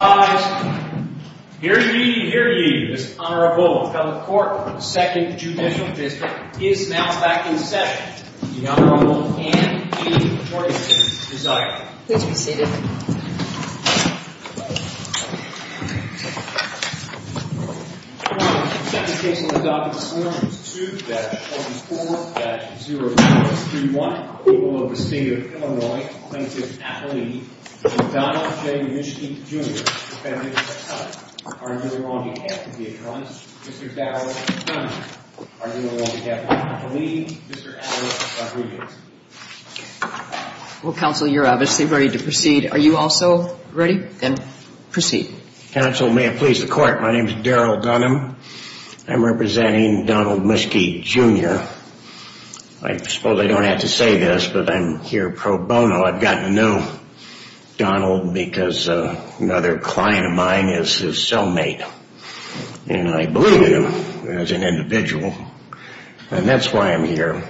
I hear you hear you this honorable court second judicial district is now back in session. And decent to what happily Jr. At least three. Well, Council, you're obviously ready to proceed. Are you also ready? And proceed? Council, may it please the court. My name is Daryl Dunham. I'm representing Donald Muskie Jr. I suppose I don't have to say this, but I'm here pro bono. I've gotten to know Donald because another client of mine is his cellmate. And I believe in him as an individual. And that's why I'm here.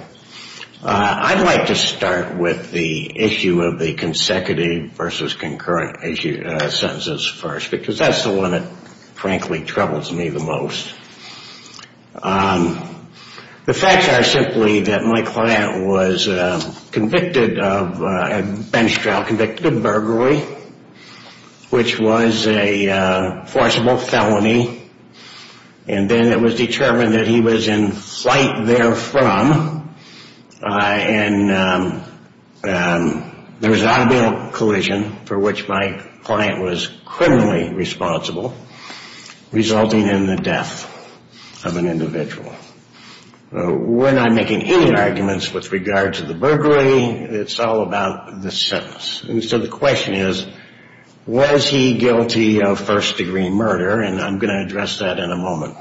I'd like to start with the issue of the consecutive versus concurrent sentences first, because that's the one that, frankly, troubles me the most. The facts are simply that my client was convicted of a bench trial, convicted of burglary, which was a forcible felony. And then it was determined that he was in flight there from. And there was an automobile collision for which my client was criminally responsible, resulting in the death of an individual. We're not making any arguments with regard to the burglary. It's all about the sentence. And so the question is, was he guilty of first degree murder? And I'm going to address that in a moment.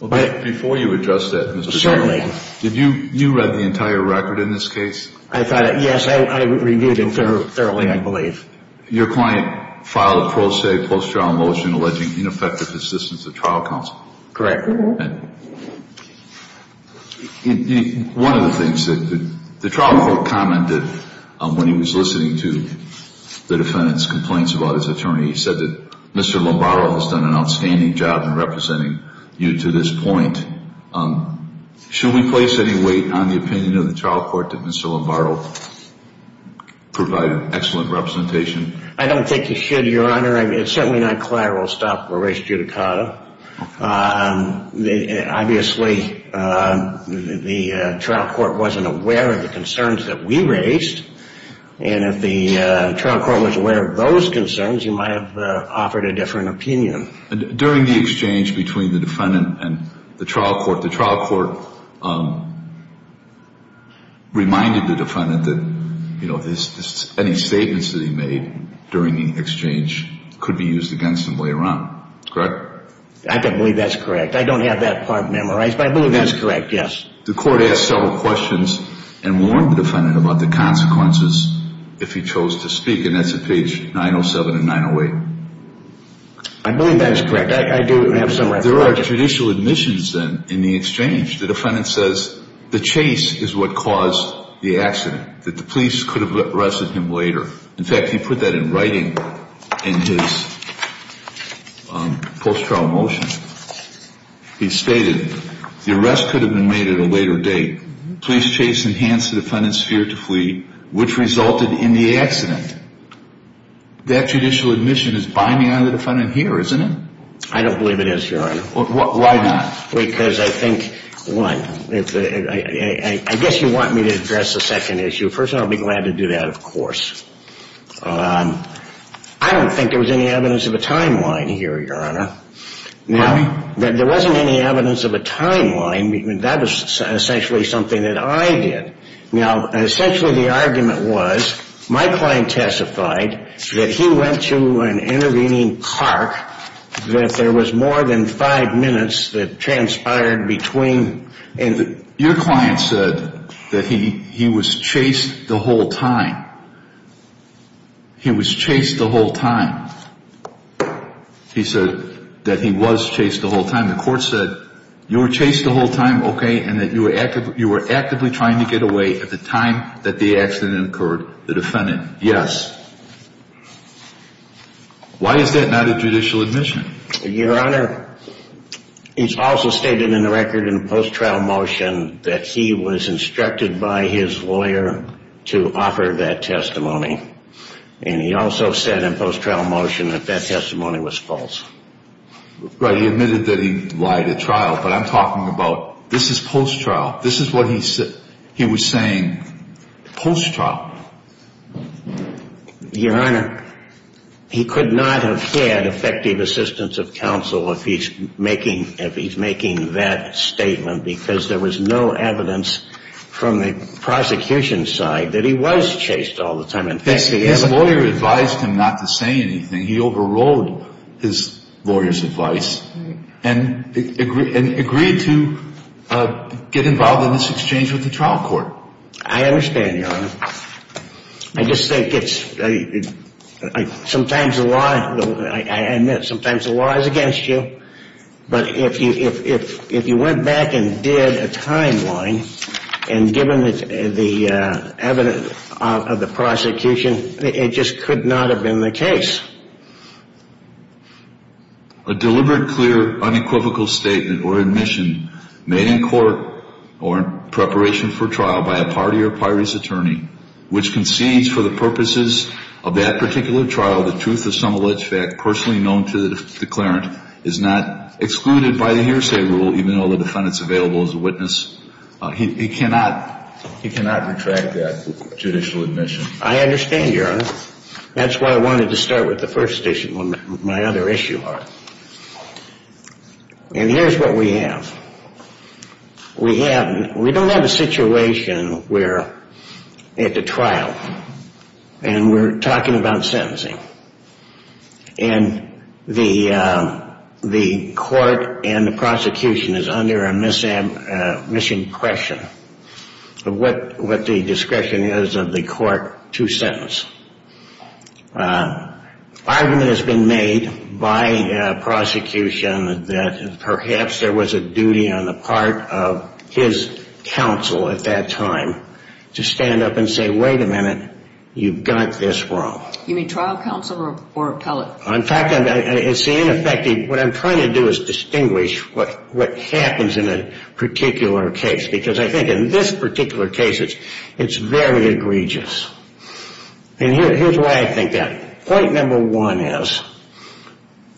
Well, before you address that, Mr. Dunham, did you read the entire record in this case? I thought, yes, I reviewed it thoroughly, I believe. Your client filed a pro se post-trial motion alleging ineffective assistance of trial counsel. Correct. One of the things that the trial court commented when he was listening to the defendant's complaints about his attorney, he said that Mr. Lombaro has done an outstanding job in representing you to this point. Should we place any weight on the opinion of the trial court that Mr. Lombaro provided excellent representation? I don't think you should, Your Honor. It's certainly not clear we'll stop a race judicata. Obviously, the trial court wasn't aware of the concerns that we raised. And if the trial court was aware of those concerns, you might have offered a different opinion. During the exchange between the defendant and the trial court, the trial court reminded the defendant that any statements that he made during the exchange could be used against him later on. Correct? I believe that's correct. I don't have that part memorized, but I believe that's correct, yes. The court asked several questions and warned the defendant about the consequences if he chose to speak. And that's at page 907 and 908. I believe that's correct. I do have some references. There are judicial admissions, then, in the exchange. The defendant says the chase is what caused the accident, that the police could have arrested him later. In fact, he put that in writing in his post-trial motion. He stated the arrest could have been made at a later date. Police chase enhanced the defendant's fear to flee, which resulted in the accident. That judicial admission is binding on the defendant here, isn't it? I don't believe it is, Your Honor. Why not? Because I think, one, I guess you want me to address the second issue. First of all, I'd be glad to do that, of course. I don't think there was any evidence of a timeline here, Your Honor. Why? There wasn't any evidence of a timeline. That was essentially something that I did. Now, essentially the argument was, my client testified that he went to an intervening park, that there was more than five minutes that transpired between... Your client said that he was chased the whole time. He was chased the whole time. He said that he was chased the whole time. The court said you were chased the whole time, okay, and that you were actively trying to get away at the time that the accident occurred. The defendant, yes. Why is that not a judicial admission? Your Honor, it's also stated in the record in post-trial motion that he was instructed by his lawyer to offer that testimony. And he also said in post-trial motion that that testimony was false. Right, he admitted that he lied at trial, but I'm talking about, this is post-trial. This is what he was saying post-trial. Your Honor, he could not have had effective assistance of counsel if he's making that statement because there was no evidence from the prosecution side that he was chased all the time. His lawyer advised him not to say anything. He overrode his lawyer's advice and agreed to get involved in this exchange with the trial court. I understand, Your Honor. I just think it's, sometimes the law, I admit, sometimes the law is against you. But if you went back and did a timeline and given the evidence of the prosecution, it just could not have been the case. A deliberate, clear, unequivocal statement or admission made in court or in preparation for trial by a party or a party's attorney, which concedes for the purposes of that particular trial the truth of some alleged fact personally known to the declarant, is not excluded by the hearsay rule, even though the defendant's available as a witness. He cannot retract that judicial admission. I understand, Your Honor. That's why I wanted to start with the first issue, my other issue. And here's what we have. We don't have a situation where at the trial, and we're talking about sentencing, and the court and the prosecution is under a misimpression of what the discretion is of the court to sentence. Argument has been made by prosecution that perhaps there was a duty on the part of his counsel at that time to stand up and say, wait a minute, you've got this wrong. You mean trial counsel or appellate? In fact, it's ineffective. What I'm trying to do is distinguish what happens in a particular case. Because I think in this particular case, it's very egregious. And here's why I think that. Point number one is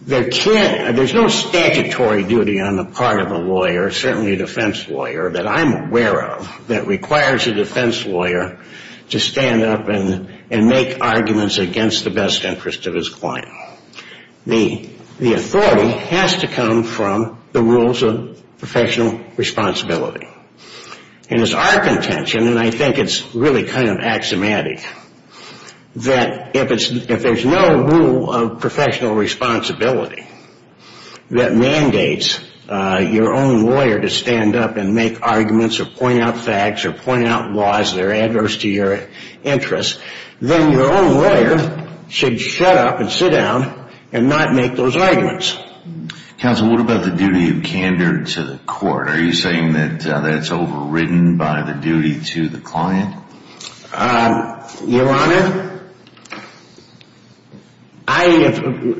there's no statutory duty on the part of a lawyer, certainly a defense lawyer, that I'm aware of, that requires a defense lawyer to stand up and make arguments against the best interest of his client. The authority has to come from the rules of professional responsibility. And it's our contention, and I think it's really kind of axiomatic, that if there's no rule of professional responsibility that mandates your own lawyer to stand up and make arguments or point out facts or point out laws that are adverse to your interests, then your own lawyer should shut up and sit down and not make those arguments. Counsel, what about the duty of candor to the court? Are you saying that that's overridden by the duty to the client? Your Honor, I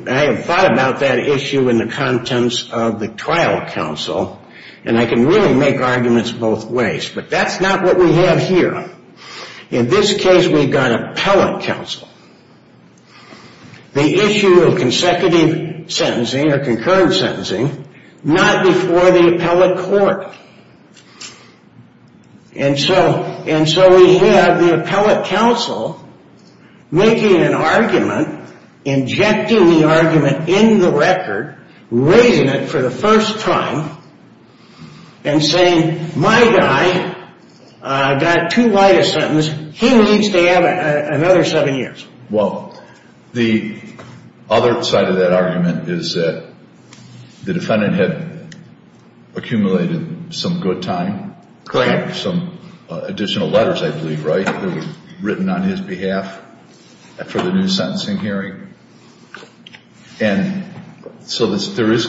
have thought about that issue in the contents of the trial counsel. And I can really make arguments both ways. But that's not what we have here. In this case, we've got appellate counsel. The issue of consecutive sentencing or concurrent sentencing, not before the appellate court. And so we have the appellate counsel making an argument, injecting the argument in the record, raising it for the first time, and saying, my guy got too light a sentence. He needs to have another seven years. Well, the other side of that argument is that the defendant had accumulated some good time. Correct. Some additional letters, I believe, right? Written on his behalf for the new sentencing hearing. And so there is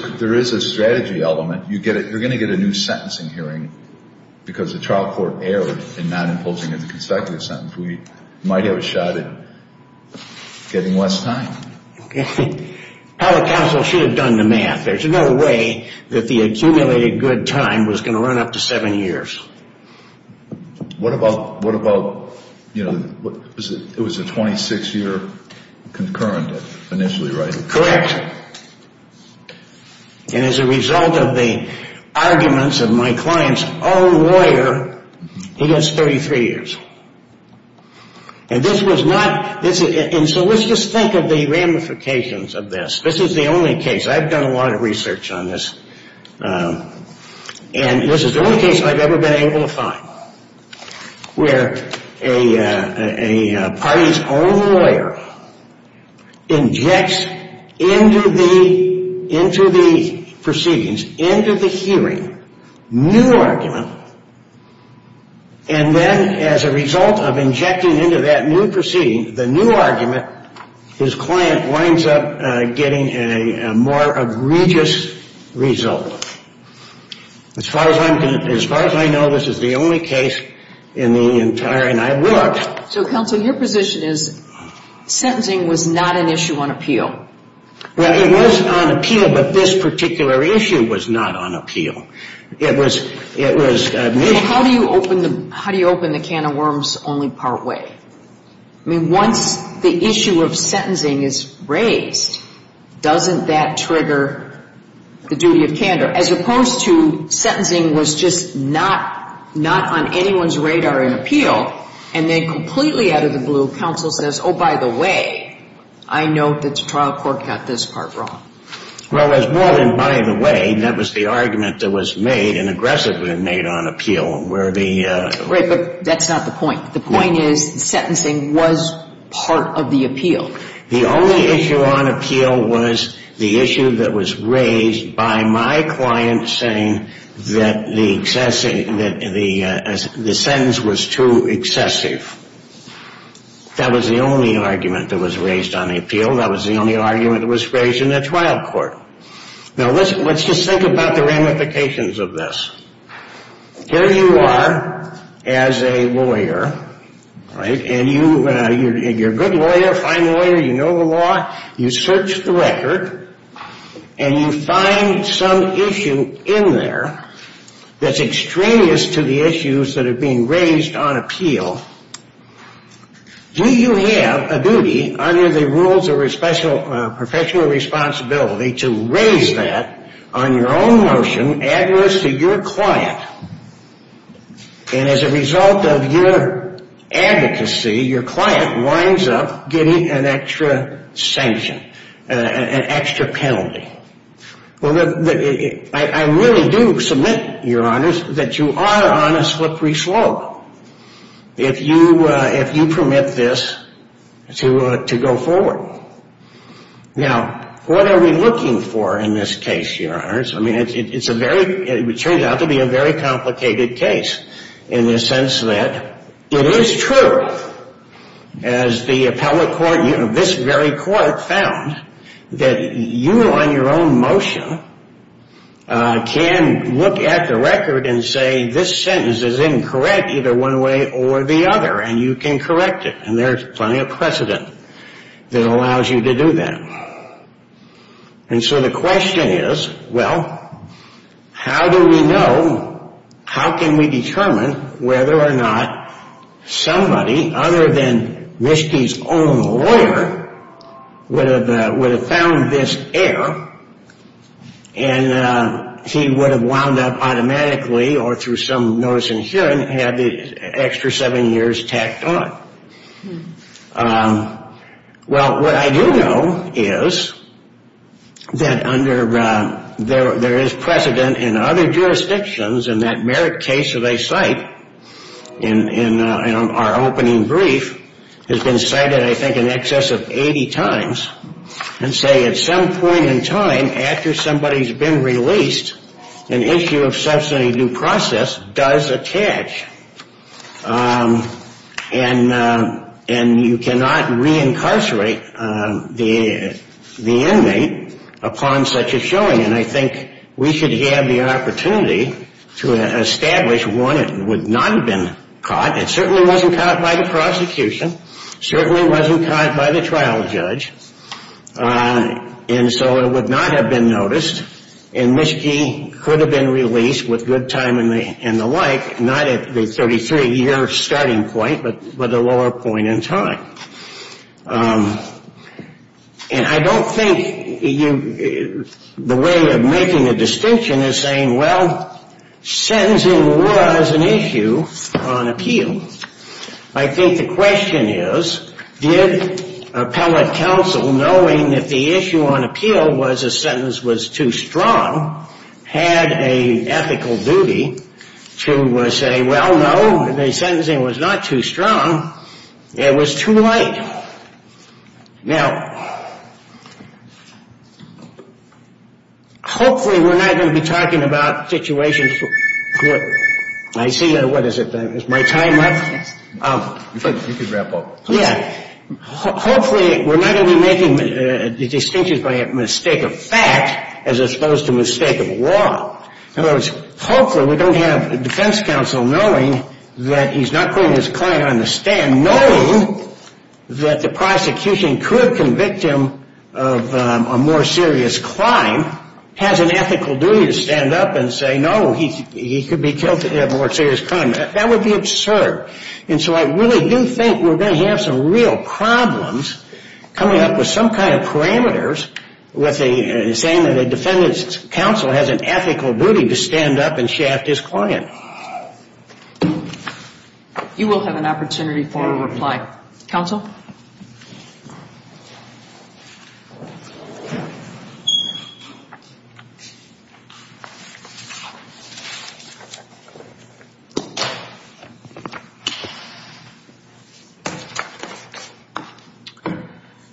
a strategy element. You're going to get a new sentencing hearing because the trial court erred in not imposing a consecutive sentence. We might have a shot at getting less time. Appellate counsel should have done the math. There's no way that the accumulated good time was going to run up to seven years. What about, you know, it was a 26-year concurrent initially, right? Correct. And as a result of the arguments of my client's own lawyer, he gets 33 years. And this was not, and so let's just think of the ramifications of this. This is the only case, I've done a lot of research on this, and this is the only case I've ever been able to find, where a party's own lawyer injects into the proceedings, into the hearing, new argument, and then as a result of injecting into that new proceeding, the new argument, his client winds up getting a more egregious result. As far as I know, this is the only case in the entire, and I've looked. So, counsel, your position is sentencing was not an issue on appeal. Well, it was on appeal, but this particular issue was not on appeal. It was... How do you open the can of worms only part way? I mean, once the issue of sentencing is raised, doesn't that trigger the duty of candor? As opposed to sentencing was just not on anyone's radar in appeal, and then completely out of the blue, counsel says, oh, by the way, I know that the trial court got this part wrong. Well, it was more than by the way. That was the argument that was made and aggressively made on appeal, where the... Right, but that's not the point. The point is sentencing was part of the appeal. The only issue on appeal was the issue that was raised by my client saying that the sentence was too excessive. That was the only argument that was raised on appeal. That was the only argument that was raised in the trial court. Now, let's just think about the ramifications of this. Here you are as a lawyer, right, and you're a good lawyer, a fine lawyer, you know the law, you search the record, and you find some issue in there that's extraneous to the issues that are being raised on appeal. Do you have a duty under the rules of professional responsibility to raise that on your own motion adverse to your client? And as a result of your advocacy, your client winds up getting an extra sanction, an extra penalty. Well, I really do submit, Your Honors, that you are on a slippery slope if you permit this to go forward. Now, what are we looking for in this case, Your Honors? I mean, it's a very, it turns out to be a very complicated case in the sense that it is true, as the appellate court, this very court found, that you on your own motion can look at the record and say this sentence is incorrect either one way or the other, and you can correct it, and there's plenty of precedent that allows you to do that. And so the question is, well, how do we know, how can we determine whether or not somebody other than Mischke's own lawyer would have found this error, and he would have wound up automatically or through some notice in hearing had the extra seven years tacked on. Well, what I do know is that under, there is precedent in other jurisdictions in that Merrick case that I cite in our opening brief has been cited I think in excess of 80 times and say at some point in time after somebody's been released an issue of substantive due process does attach. And you cannot reincarcerate the inmate upon such a showing, and I think we should have the opportunity to establish one that would not have been caught, it certainly wasn't caught by the prosecution, certainly wasn't caught by the trial judge, and so it would not have been noticed, and Mischke could have been released with good timing and the like, not at the 33-year starting point, but at a lower point in time. And I don't think the way of making a distinction is saying, well, sentencing was an issue on appeal. I think the question is, did appellate counsel knowing that the issue on appeal was a sentence was too strong, had an ethical duty to say, well, no, the sentencing was not too strong, it was too light. Now, hopefully we're not going to be talking about situations where, I see, what is it? Is my time up? Yeah. Hopefully we're not going to be making the distinction by a mistake of fact as opposed to a mistake of law. In other words, hopefully we don't have a defense counsel knowing that he's not putting his client on the stand knowing that the prosecution could convict him of a more serious crime, has an ethical duty to stand up and say, no, he could be killed for a more serious crime. That would be absurd. And so I really do think we're going to have some real problems coming up with some kind of parameters saying that a defendant's counsel has an ethical duty to stand up and shaft his client. You will have an opportunity for a reply. Counsel?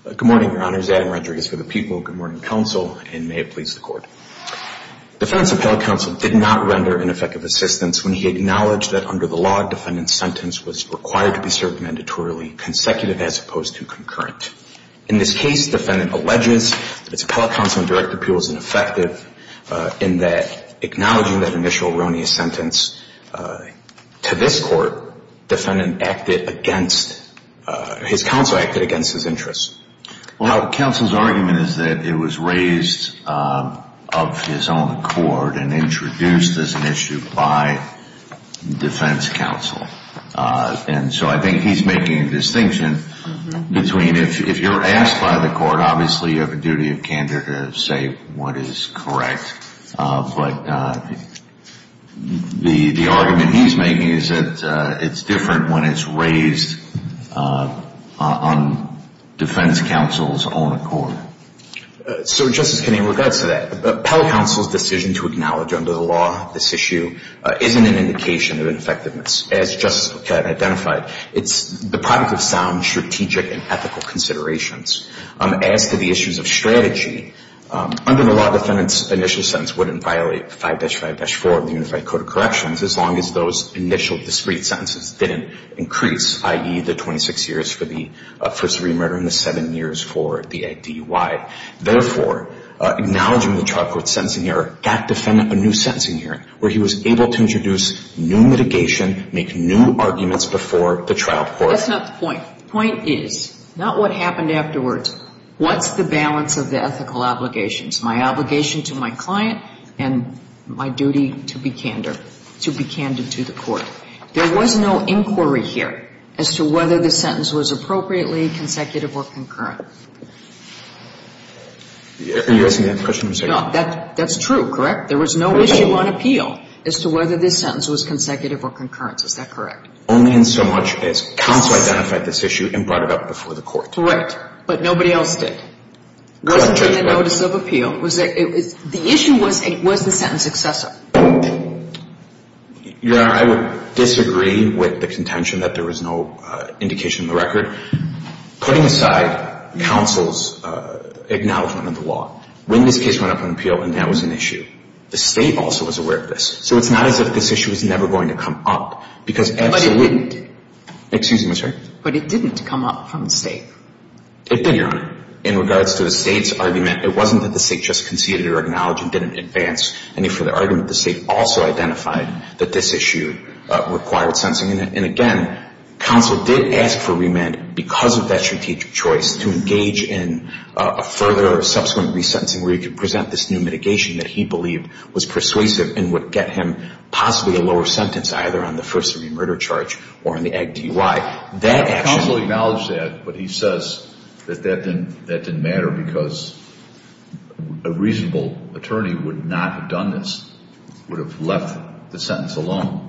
Good morning. Good morning, your honors. Adam Rodriguez for the people. Good morning, counsel, and may it please the court. Defendant's appellate counsel did not render ineffective assistance when he acknowledged that under the law, defendant's sentence was required to be served mandatorily, consecutive as opposed to concurrent. In this case, defendant alleges that his appellate counsel and direct appeal was ineffective in that, acknowledging that initial erroneous sentence, to this court, defendant acted against, his counsel acted against his interests. Well, counsel's argument is that it was raised of his own accord and introduced as an issue by defense counsel. And so I think he's making a distinction between, if you're asked by the court, obviously you have a duty of candor to say what is correct. But the argument he's making is that it's different when it's raised on defense counsel's own accord. So, Justice Kennedy, in regards to that, appellate counsel's decision to acknowledge under the law this issue isn't an indication of ineffectiveness. As Justice Boquette identified, it's the product of sound strategic and ethical considerations. As to the issues of strategy, under the law, defendant's initial sentence wouldn't violate 5-5-4 of the Unified Code of Corrections as long as those initial discrete sentences didn't increase, i.e., the 26 years for the first remurder and the seven years for the ADY. Therefore, acknowledging the trial court's sentencing hearing, that defendant, a new sentencing hearing, where he was able to introduce new mitigation, make new arguments before the trial court. That's not the point. The point is, not what happened afterwards, what's the balance of the ethical obligations? My obligation to my client and my duty to be candor, to be candor to the court. There was no inquiry here as to whether the sentence was appropriately consecutive or concurrent. Are you asking that question? No. That's true, correct? There was no issue on appeal as to whether this sentence was consecutive or concurrent. Is that correct? Only in so much as counsel identified this issue and brought it up before the court. Correct. But nobody else did. It wasn't in the notice of appeal. The issue was, was the sentence excessive. Your Honor, I would disagree with the contention that there was no indication in the record. Putting aside counsel's acknowledgment of the law, when this case went up on appeal and that was an issue, the State also was aware of this. So it's not as if this issue was never going to come up, because absolutely. But it didn't. Excuse me, I'm sorry? But it didn't come up from the State. It did, Your Honor. In regards to the State's argument, it wasn't that the State just conceded or acknowledged and didn't advance any further argument. The State also identified that this issue required sentencing. And again, counsel did ask for remand because of that strategic choice to engage in a further or subsequent resentencing where he could present this new mitigation that he believed was persuasive and would get him possibly a lower sentence either on the first-degree murder charge or on the AG DUI. Counsel acknowledged that, but he says that that didn't matter because a reasonable attorney would not have done this, would have left the sentence alone.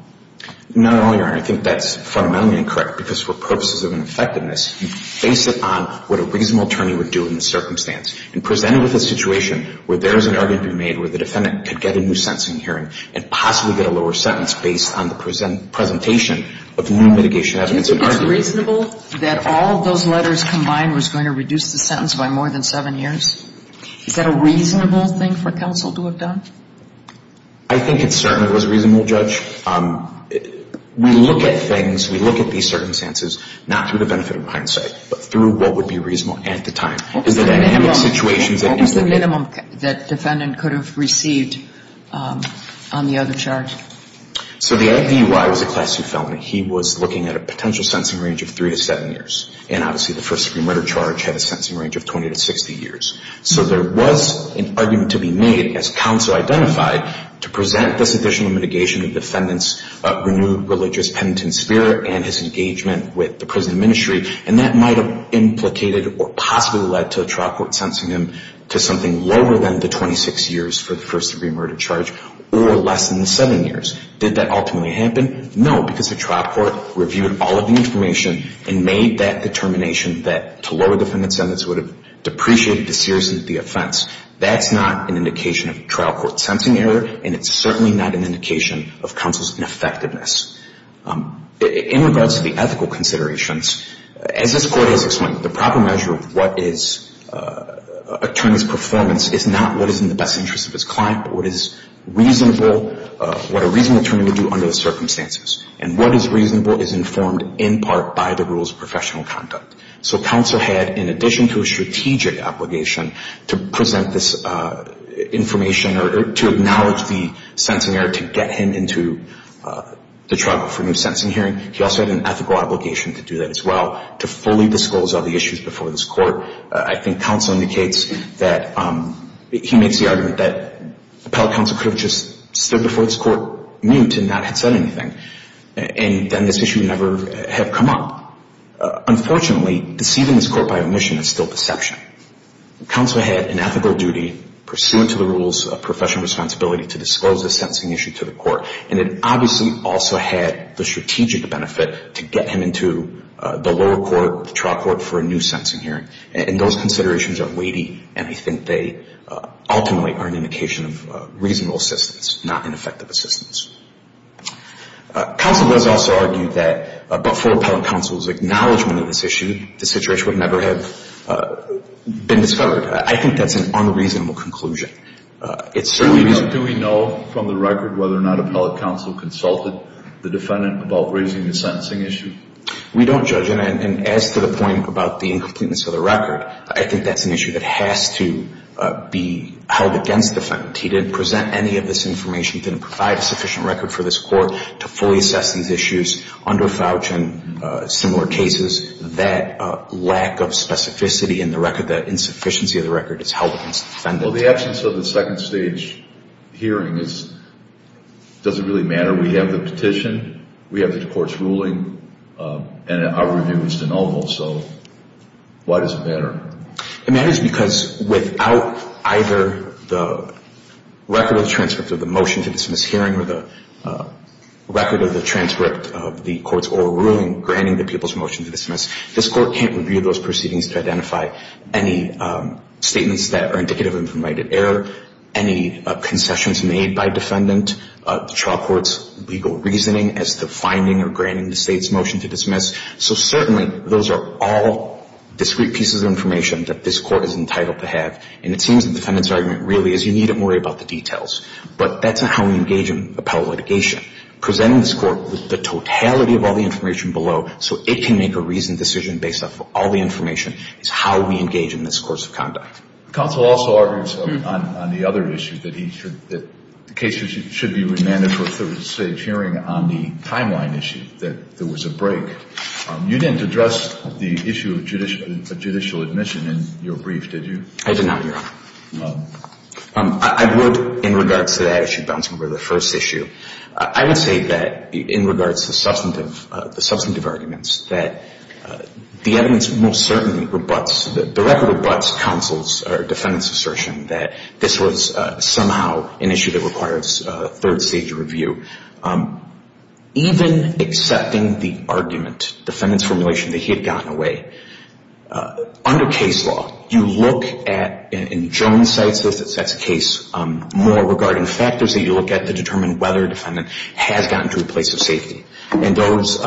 Not at all, Your Honor. I think that's fundamentally incorrect because for purposes of an effectiveness, you base it on what a reasonable attorney would do in the circumstance and present it with a situation where there is an argument to be made where the defendant could get a new sentencing hearing and possibly get a lower sentence based on the presentation of new mitigation evidence. Do you think it's reasonable that all those letters combined was going to reduce the sentence by more than 7 years? Is that a reasonable thing for counsel to have done? I think it certainly was reasonable, Judge. We look at things, we look at these circumstances not through the benefit of hindsight, but through what would be reasonable at the time. What was the minimum that the defendant could have received on the other charge? So the AG DUI was a Class II felon. He was looking at a potential sentencing range of 3 to 7 years. And obviously the first-degree murder charge had a sentencing range of 20 to 60 years. So there was an argument to be made, as counsel identified, to present this additional mitigation to the defendant's renewed religious penitent spirit and his engagement with the prison ministry. And that might have implicated or possibly led to a trial court sentencing him to something lower than the 26 years for the first-degree murder charge or less than the 7 years. Did that ultimately happen? No, because the trial court reviewed all of the information and made that determination that to lower the defendant's sentence would have depreciated the seriousness of the offense. That's not an indication of trial court sentencing error and it's certainly not an indication of counsel's ineffectiveness. In regards to the ethical considerations, as this Court has explained, the proper measure of what is an attorney's performance is not what is in the best interest of his client, but what a reasonable attorney would do under the circumstances. And what is reasonable is informed in part by the rules of professional conduct. So counsel had, in addition to a strategic obligation to present this information or to acknowledge the sentencing error to get him into the trial court for a new sentencing hearing, he also had an ethical obligation to do that as well, to fully disclose all the issues before this Court. I think counsel indicates that, he makes the argument that appellate counsel could have just stood before this Court, mute, and not have said anything. And then this issue would never have come up. Unfortunately, deceiving this Court by omission is still deception. Counsel had an ethical duty, pursuant to the rules of professional responsibility, to disclose this sentencing issue to the Court. And it obviously also had the strategic benefit to get him into the lower court, the trial court, for a new sentencing hearing. And those considerations are weighty and I think they ultimately are an indication of reasonable assistance, not ineffective assistance. Counsel does also argue that before appellate counsel's acknowledgment of this issue, the situation would never have been discovered. I think that's an unreasonable conclusion. Do we know from the record whether or not appellate counsel consulted the defendant about raising the sentencing issue? We don't judge, and as to the point about the incompleteness of the record, I think that's an issue that has to be held against the defendant. He didn't present any of this information, he didn't provide a sufficient record for this Court to fully assess these issues. Under Fouch and similar cases, that lack of specificity in the record, that insufficiency of the record, is held against the defendant. Well, the absence of the second stage hearing doesn't really matter. We have the petition, we have the Court's ruling, and our review was denominal, so why does it matter? It matters because without either the record of the transcript of the motion to dismiss hearing or the record of the transcript of the Court's oral ruling granting the people's motion to dismiss, this Court can't review those proceedings to identify any statements that are indicative of informed right at error, any concessions made by defendant, the trial court's legal reasoning as to finding or granting the State's motion to dismiss. So certainly, those are all discrete pieces of information that this Court is entitled to have, and it seems the defendant's argument really is you needn't worry about the details, but that's not how we engage in appellate litigation. Presenting this Court with the totality of all the information below, so it can make a reasoned decision based off of all the information, is how we engage in this course of conduct. Counsel also argues on the other issue, that the case should be remanded for a third stage hearing on the timeline issue, that there was a break. You didn't address the issue of judicial admission in your brief, did you? I did not, Your Honor. No. I would, in regards to that issue, bouncing over to the first issue, I would say that in regards to the substantive arguments, that the evidence most certainly rebuts, the record rebuts counsel's or defendant's assertion that this was somehow an issue that requires a third stage review. Even accepting the argument, defendant's formulation that he had gotten away, under case law, you look at, and Joan cites this, that's a case more, regarding factors that you look at to determine whether a defendant has gotten to a place of safety. And those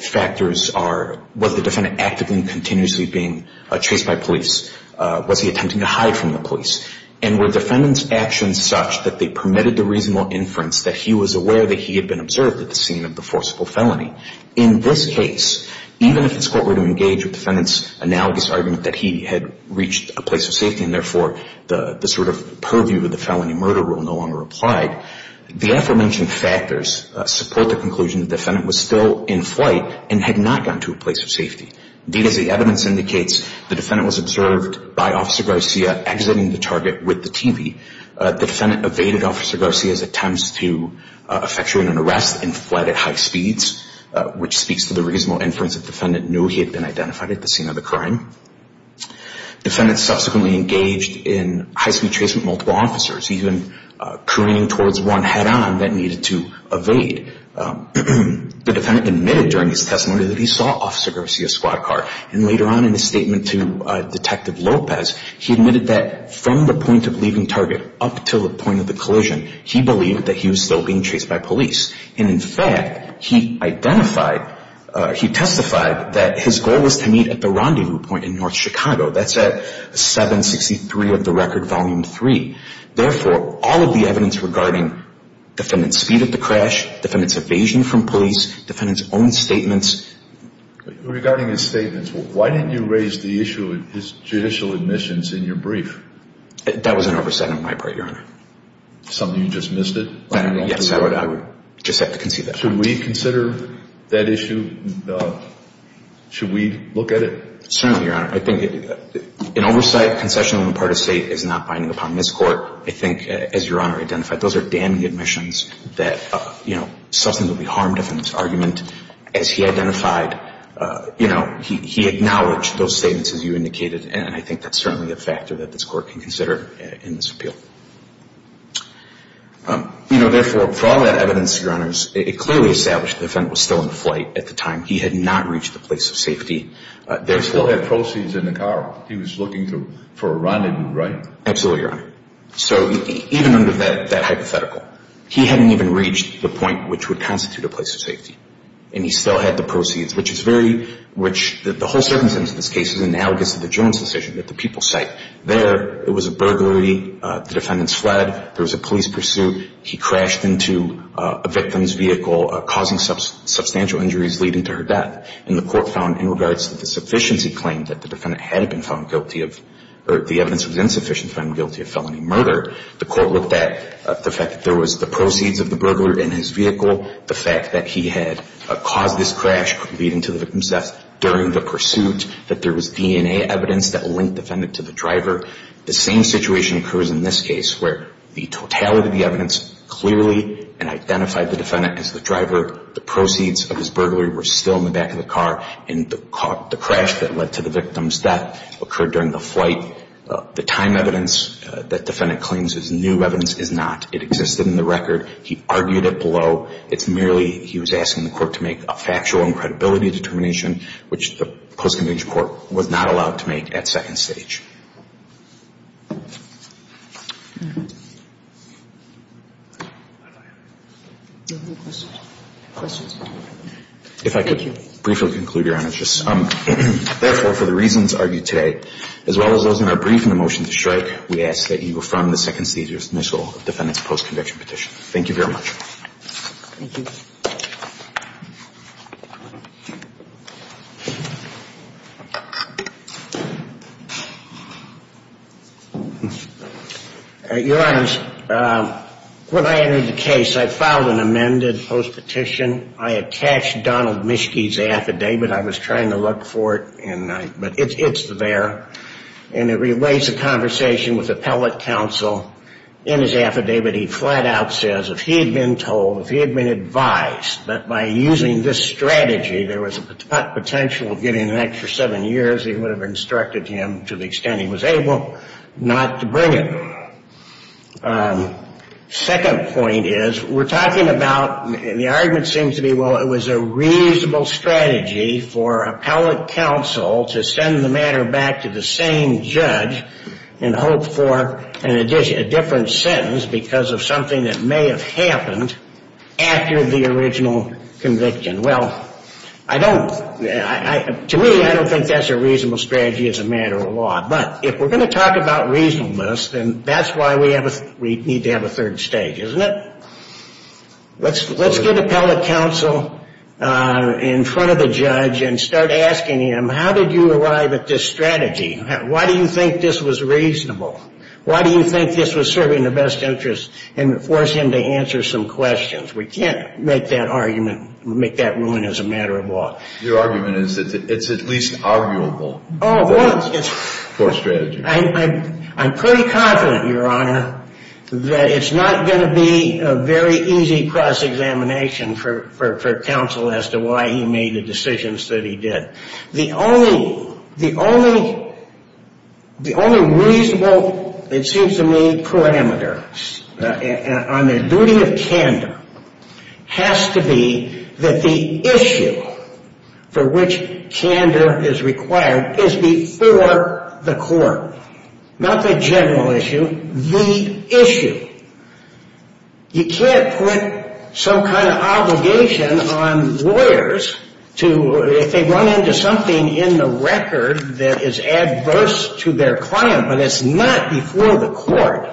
factors are, was the defendant actively and continuously being chased by police? Was he attempting to hide from the police? And were defendant's actions such that they permitted the reasonable inference that he was aware that he had been observed at the scene of the forcible felony? In this case, even if this court were to engage with defendant's analogous argument that he had reached a place of safety and therefore the sort of purview of the felony murder rule no longer applied, the aforementioned factors support the conclusion the defendant was still in flight and had not gone to a place of safety. Indeed, as the evidence indicates, the defendant was observed by Officer Garcia exiting the target with the TV. The defendant evaded Officer Garcia's attempts to effectuate an arrest and fled at high speeds, which speaks to the reasonable inference that defendant knew he had been identified at the scene of the crime. Defendant subsequently engaged in high-speed chase with multiple officers, even careening towards one head-on that needed to evade. The defendant admitted during his testimony that he saw Officer Garcia's squad car. And later on in his statement to Detective Lopez, he admitted that from the point of leaving target up until the point of the collision, he believed that he was still being chased by police. And in fact, he identified, he testified that his goal was to meet at the rendezvous point in North Chicago. That's at 763 of the record, Volume 3. Therefore, all of the evidence regarding defendant's speed at the crash, defendant's evasion from police, defendant's own statements... Regarding his statements, why didn't you raise the issue of his judicial admissions in your brief? That was an overstatement on my part, Your Honor. Something you just missed it? Yes, I would just have to concede that. Should we consider that issue? Should we look at it? Certainly, Your Honor. I think an oversight concession on the part of State is not binding upon this Court. I think, as Your Honor identified, those are damning admissions that, you know, something would be harmed if in this argument, as he identified, you know, he acknowledged those statements as you indicated, and I think that's certainly a factor that this Court can consider in this appeal. You know, therefore, for all that evidence, Your Honor, it clearly established the defendant was still in flight at the time. He had not reached the place of safety. He still had proceeds in the car. He was looking for a rendezvous, right? Absolutely, Your Honor. So even under that hypothetical, he hadn't even reached the point which would constitute a place of safety, and he still had the proceeds, which is very... The whole circumstance of this case is analogous to the Jones decision that the people cite. There, it was a burglary. The defendants fled. There was a police pursuit. He crashed into a victim's vehicle causing substantial injuries leading to her death, and the Court found in regards to the sufficiency claim that the defendant had been found guilty of, or the evidence was insufficient found guilty of felony murder, the Court looked at the fact that there was the proceeds of the burglar in his vehicle, the fact that he had caused this crash leading to the victim's death during the pursuit, that there was DNA evidence that linked the defendant to the driver. The same situation occurs in this case where the totality of the evidence clearly identified the defendant as the driver, the proceeds of his burglary were still in the back of the car, and the crash that led to the victim's death occurred during the flight. The time evidence that the defendant claims is new evidence is not. It existed in the record. He argued it below. It's merely he was asking the Court to make a factual and credibility determination which the post-conviction Court was not allowed to make at second stage. If I could briefly conclude, Your Honor. Therefore, for the reasons argued today as well as those in our briefing motion to strike, we ask that you affirm the second stage initial of the defendant's post-conviction petition. Thank you very much. Your Honor, when I entered the case, I filed an amended post-petition. I attached Donald Mischke's affidavit. I was trying to look for it. It's there. It relates a conversation with appellate counsel in his affidavit. He flat out says, if he had been told, if he had been advised that by using this strategy there was a potential of getting an extra seven years, he would have instructed him to the extent he was able not to bring it. Second point is, we're talking about, and the argument seems to be, well, it was a reasonable strategy for appellate counsel to send the matter back to the same judge and hope for a different sentence because of something that may have happened after the original conviction. Well, to me, I don't think that's a reasonable strategy as a matter of law. But if we're going to talk about reasonableness, then that's why we need to have a third stage, isn't it? Let's get appellate counsel in front of the judge and start asking him, how did you arrive at this strategy? Why do you think this was reasonable? Why do you think this was serving the best interest and force him to answer some questions? We can't make that argument, make that ruling as a matter of law. Your argument is that it's at least arguable for a strategy. I'm pretty confident, Your Honor, that it's not going to be a very easy cross-examination for counsel as to why he made the decisions that he did. The only reasonable, it seems to me, parameter on the duty of candor has to be that the issue for which candor is required is before the court. Not the general issue, the issue. You can't put some kind of obligation on lawyers if they run into something in the record that is adverse to their client, but it's not before the court.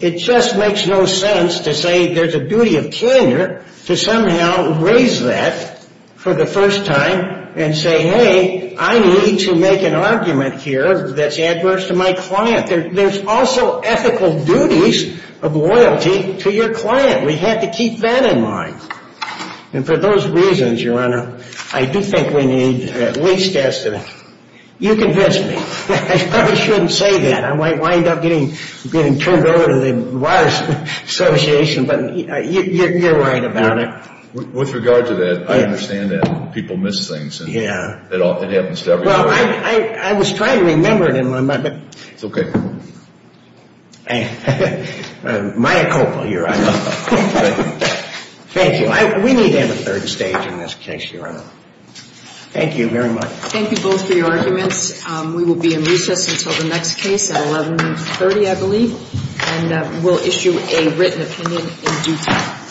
It just makes no sense to say there's a duty of candor to somehow raise that for the first time and say, hey, I need to make an argument here that's adverse to my client. There's also ethical duties of loyalty to your client. We have to keep that in mind. And for those reasons, Your Honor, I do think we need at least estimate. You convinced me. I probably shouldn't say that. I might wind up getting turned over to the Lawyers Association, but you're right about it. With regard to that, I understand that people miss things. It happens to everybody. I was trying to remember it. It's okay. Maya Coppola, Your Honor. Thank you. We need to have a third stage in this case, Your Honor. Thank you very much. Thank you both for your arguments. We will be in recess until the next case at 1130, I believe. And we'll issue a written opinion in due time.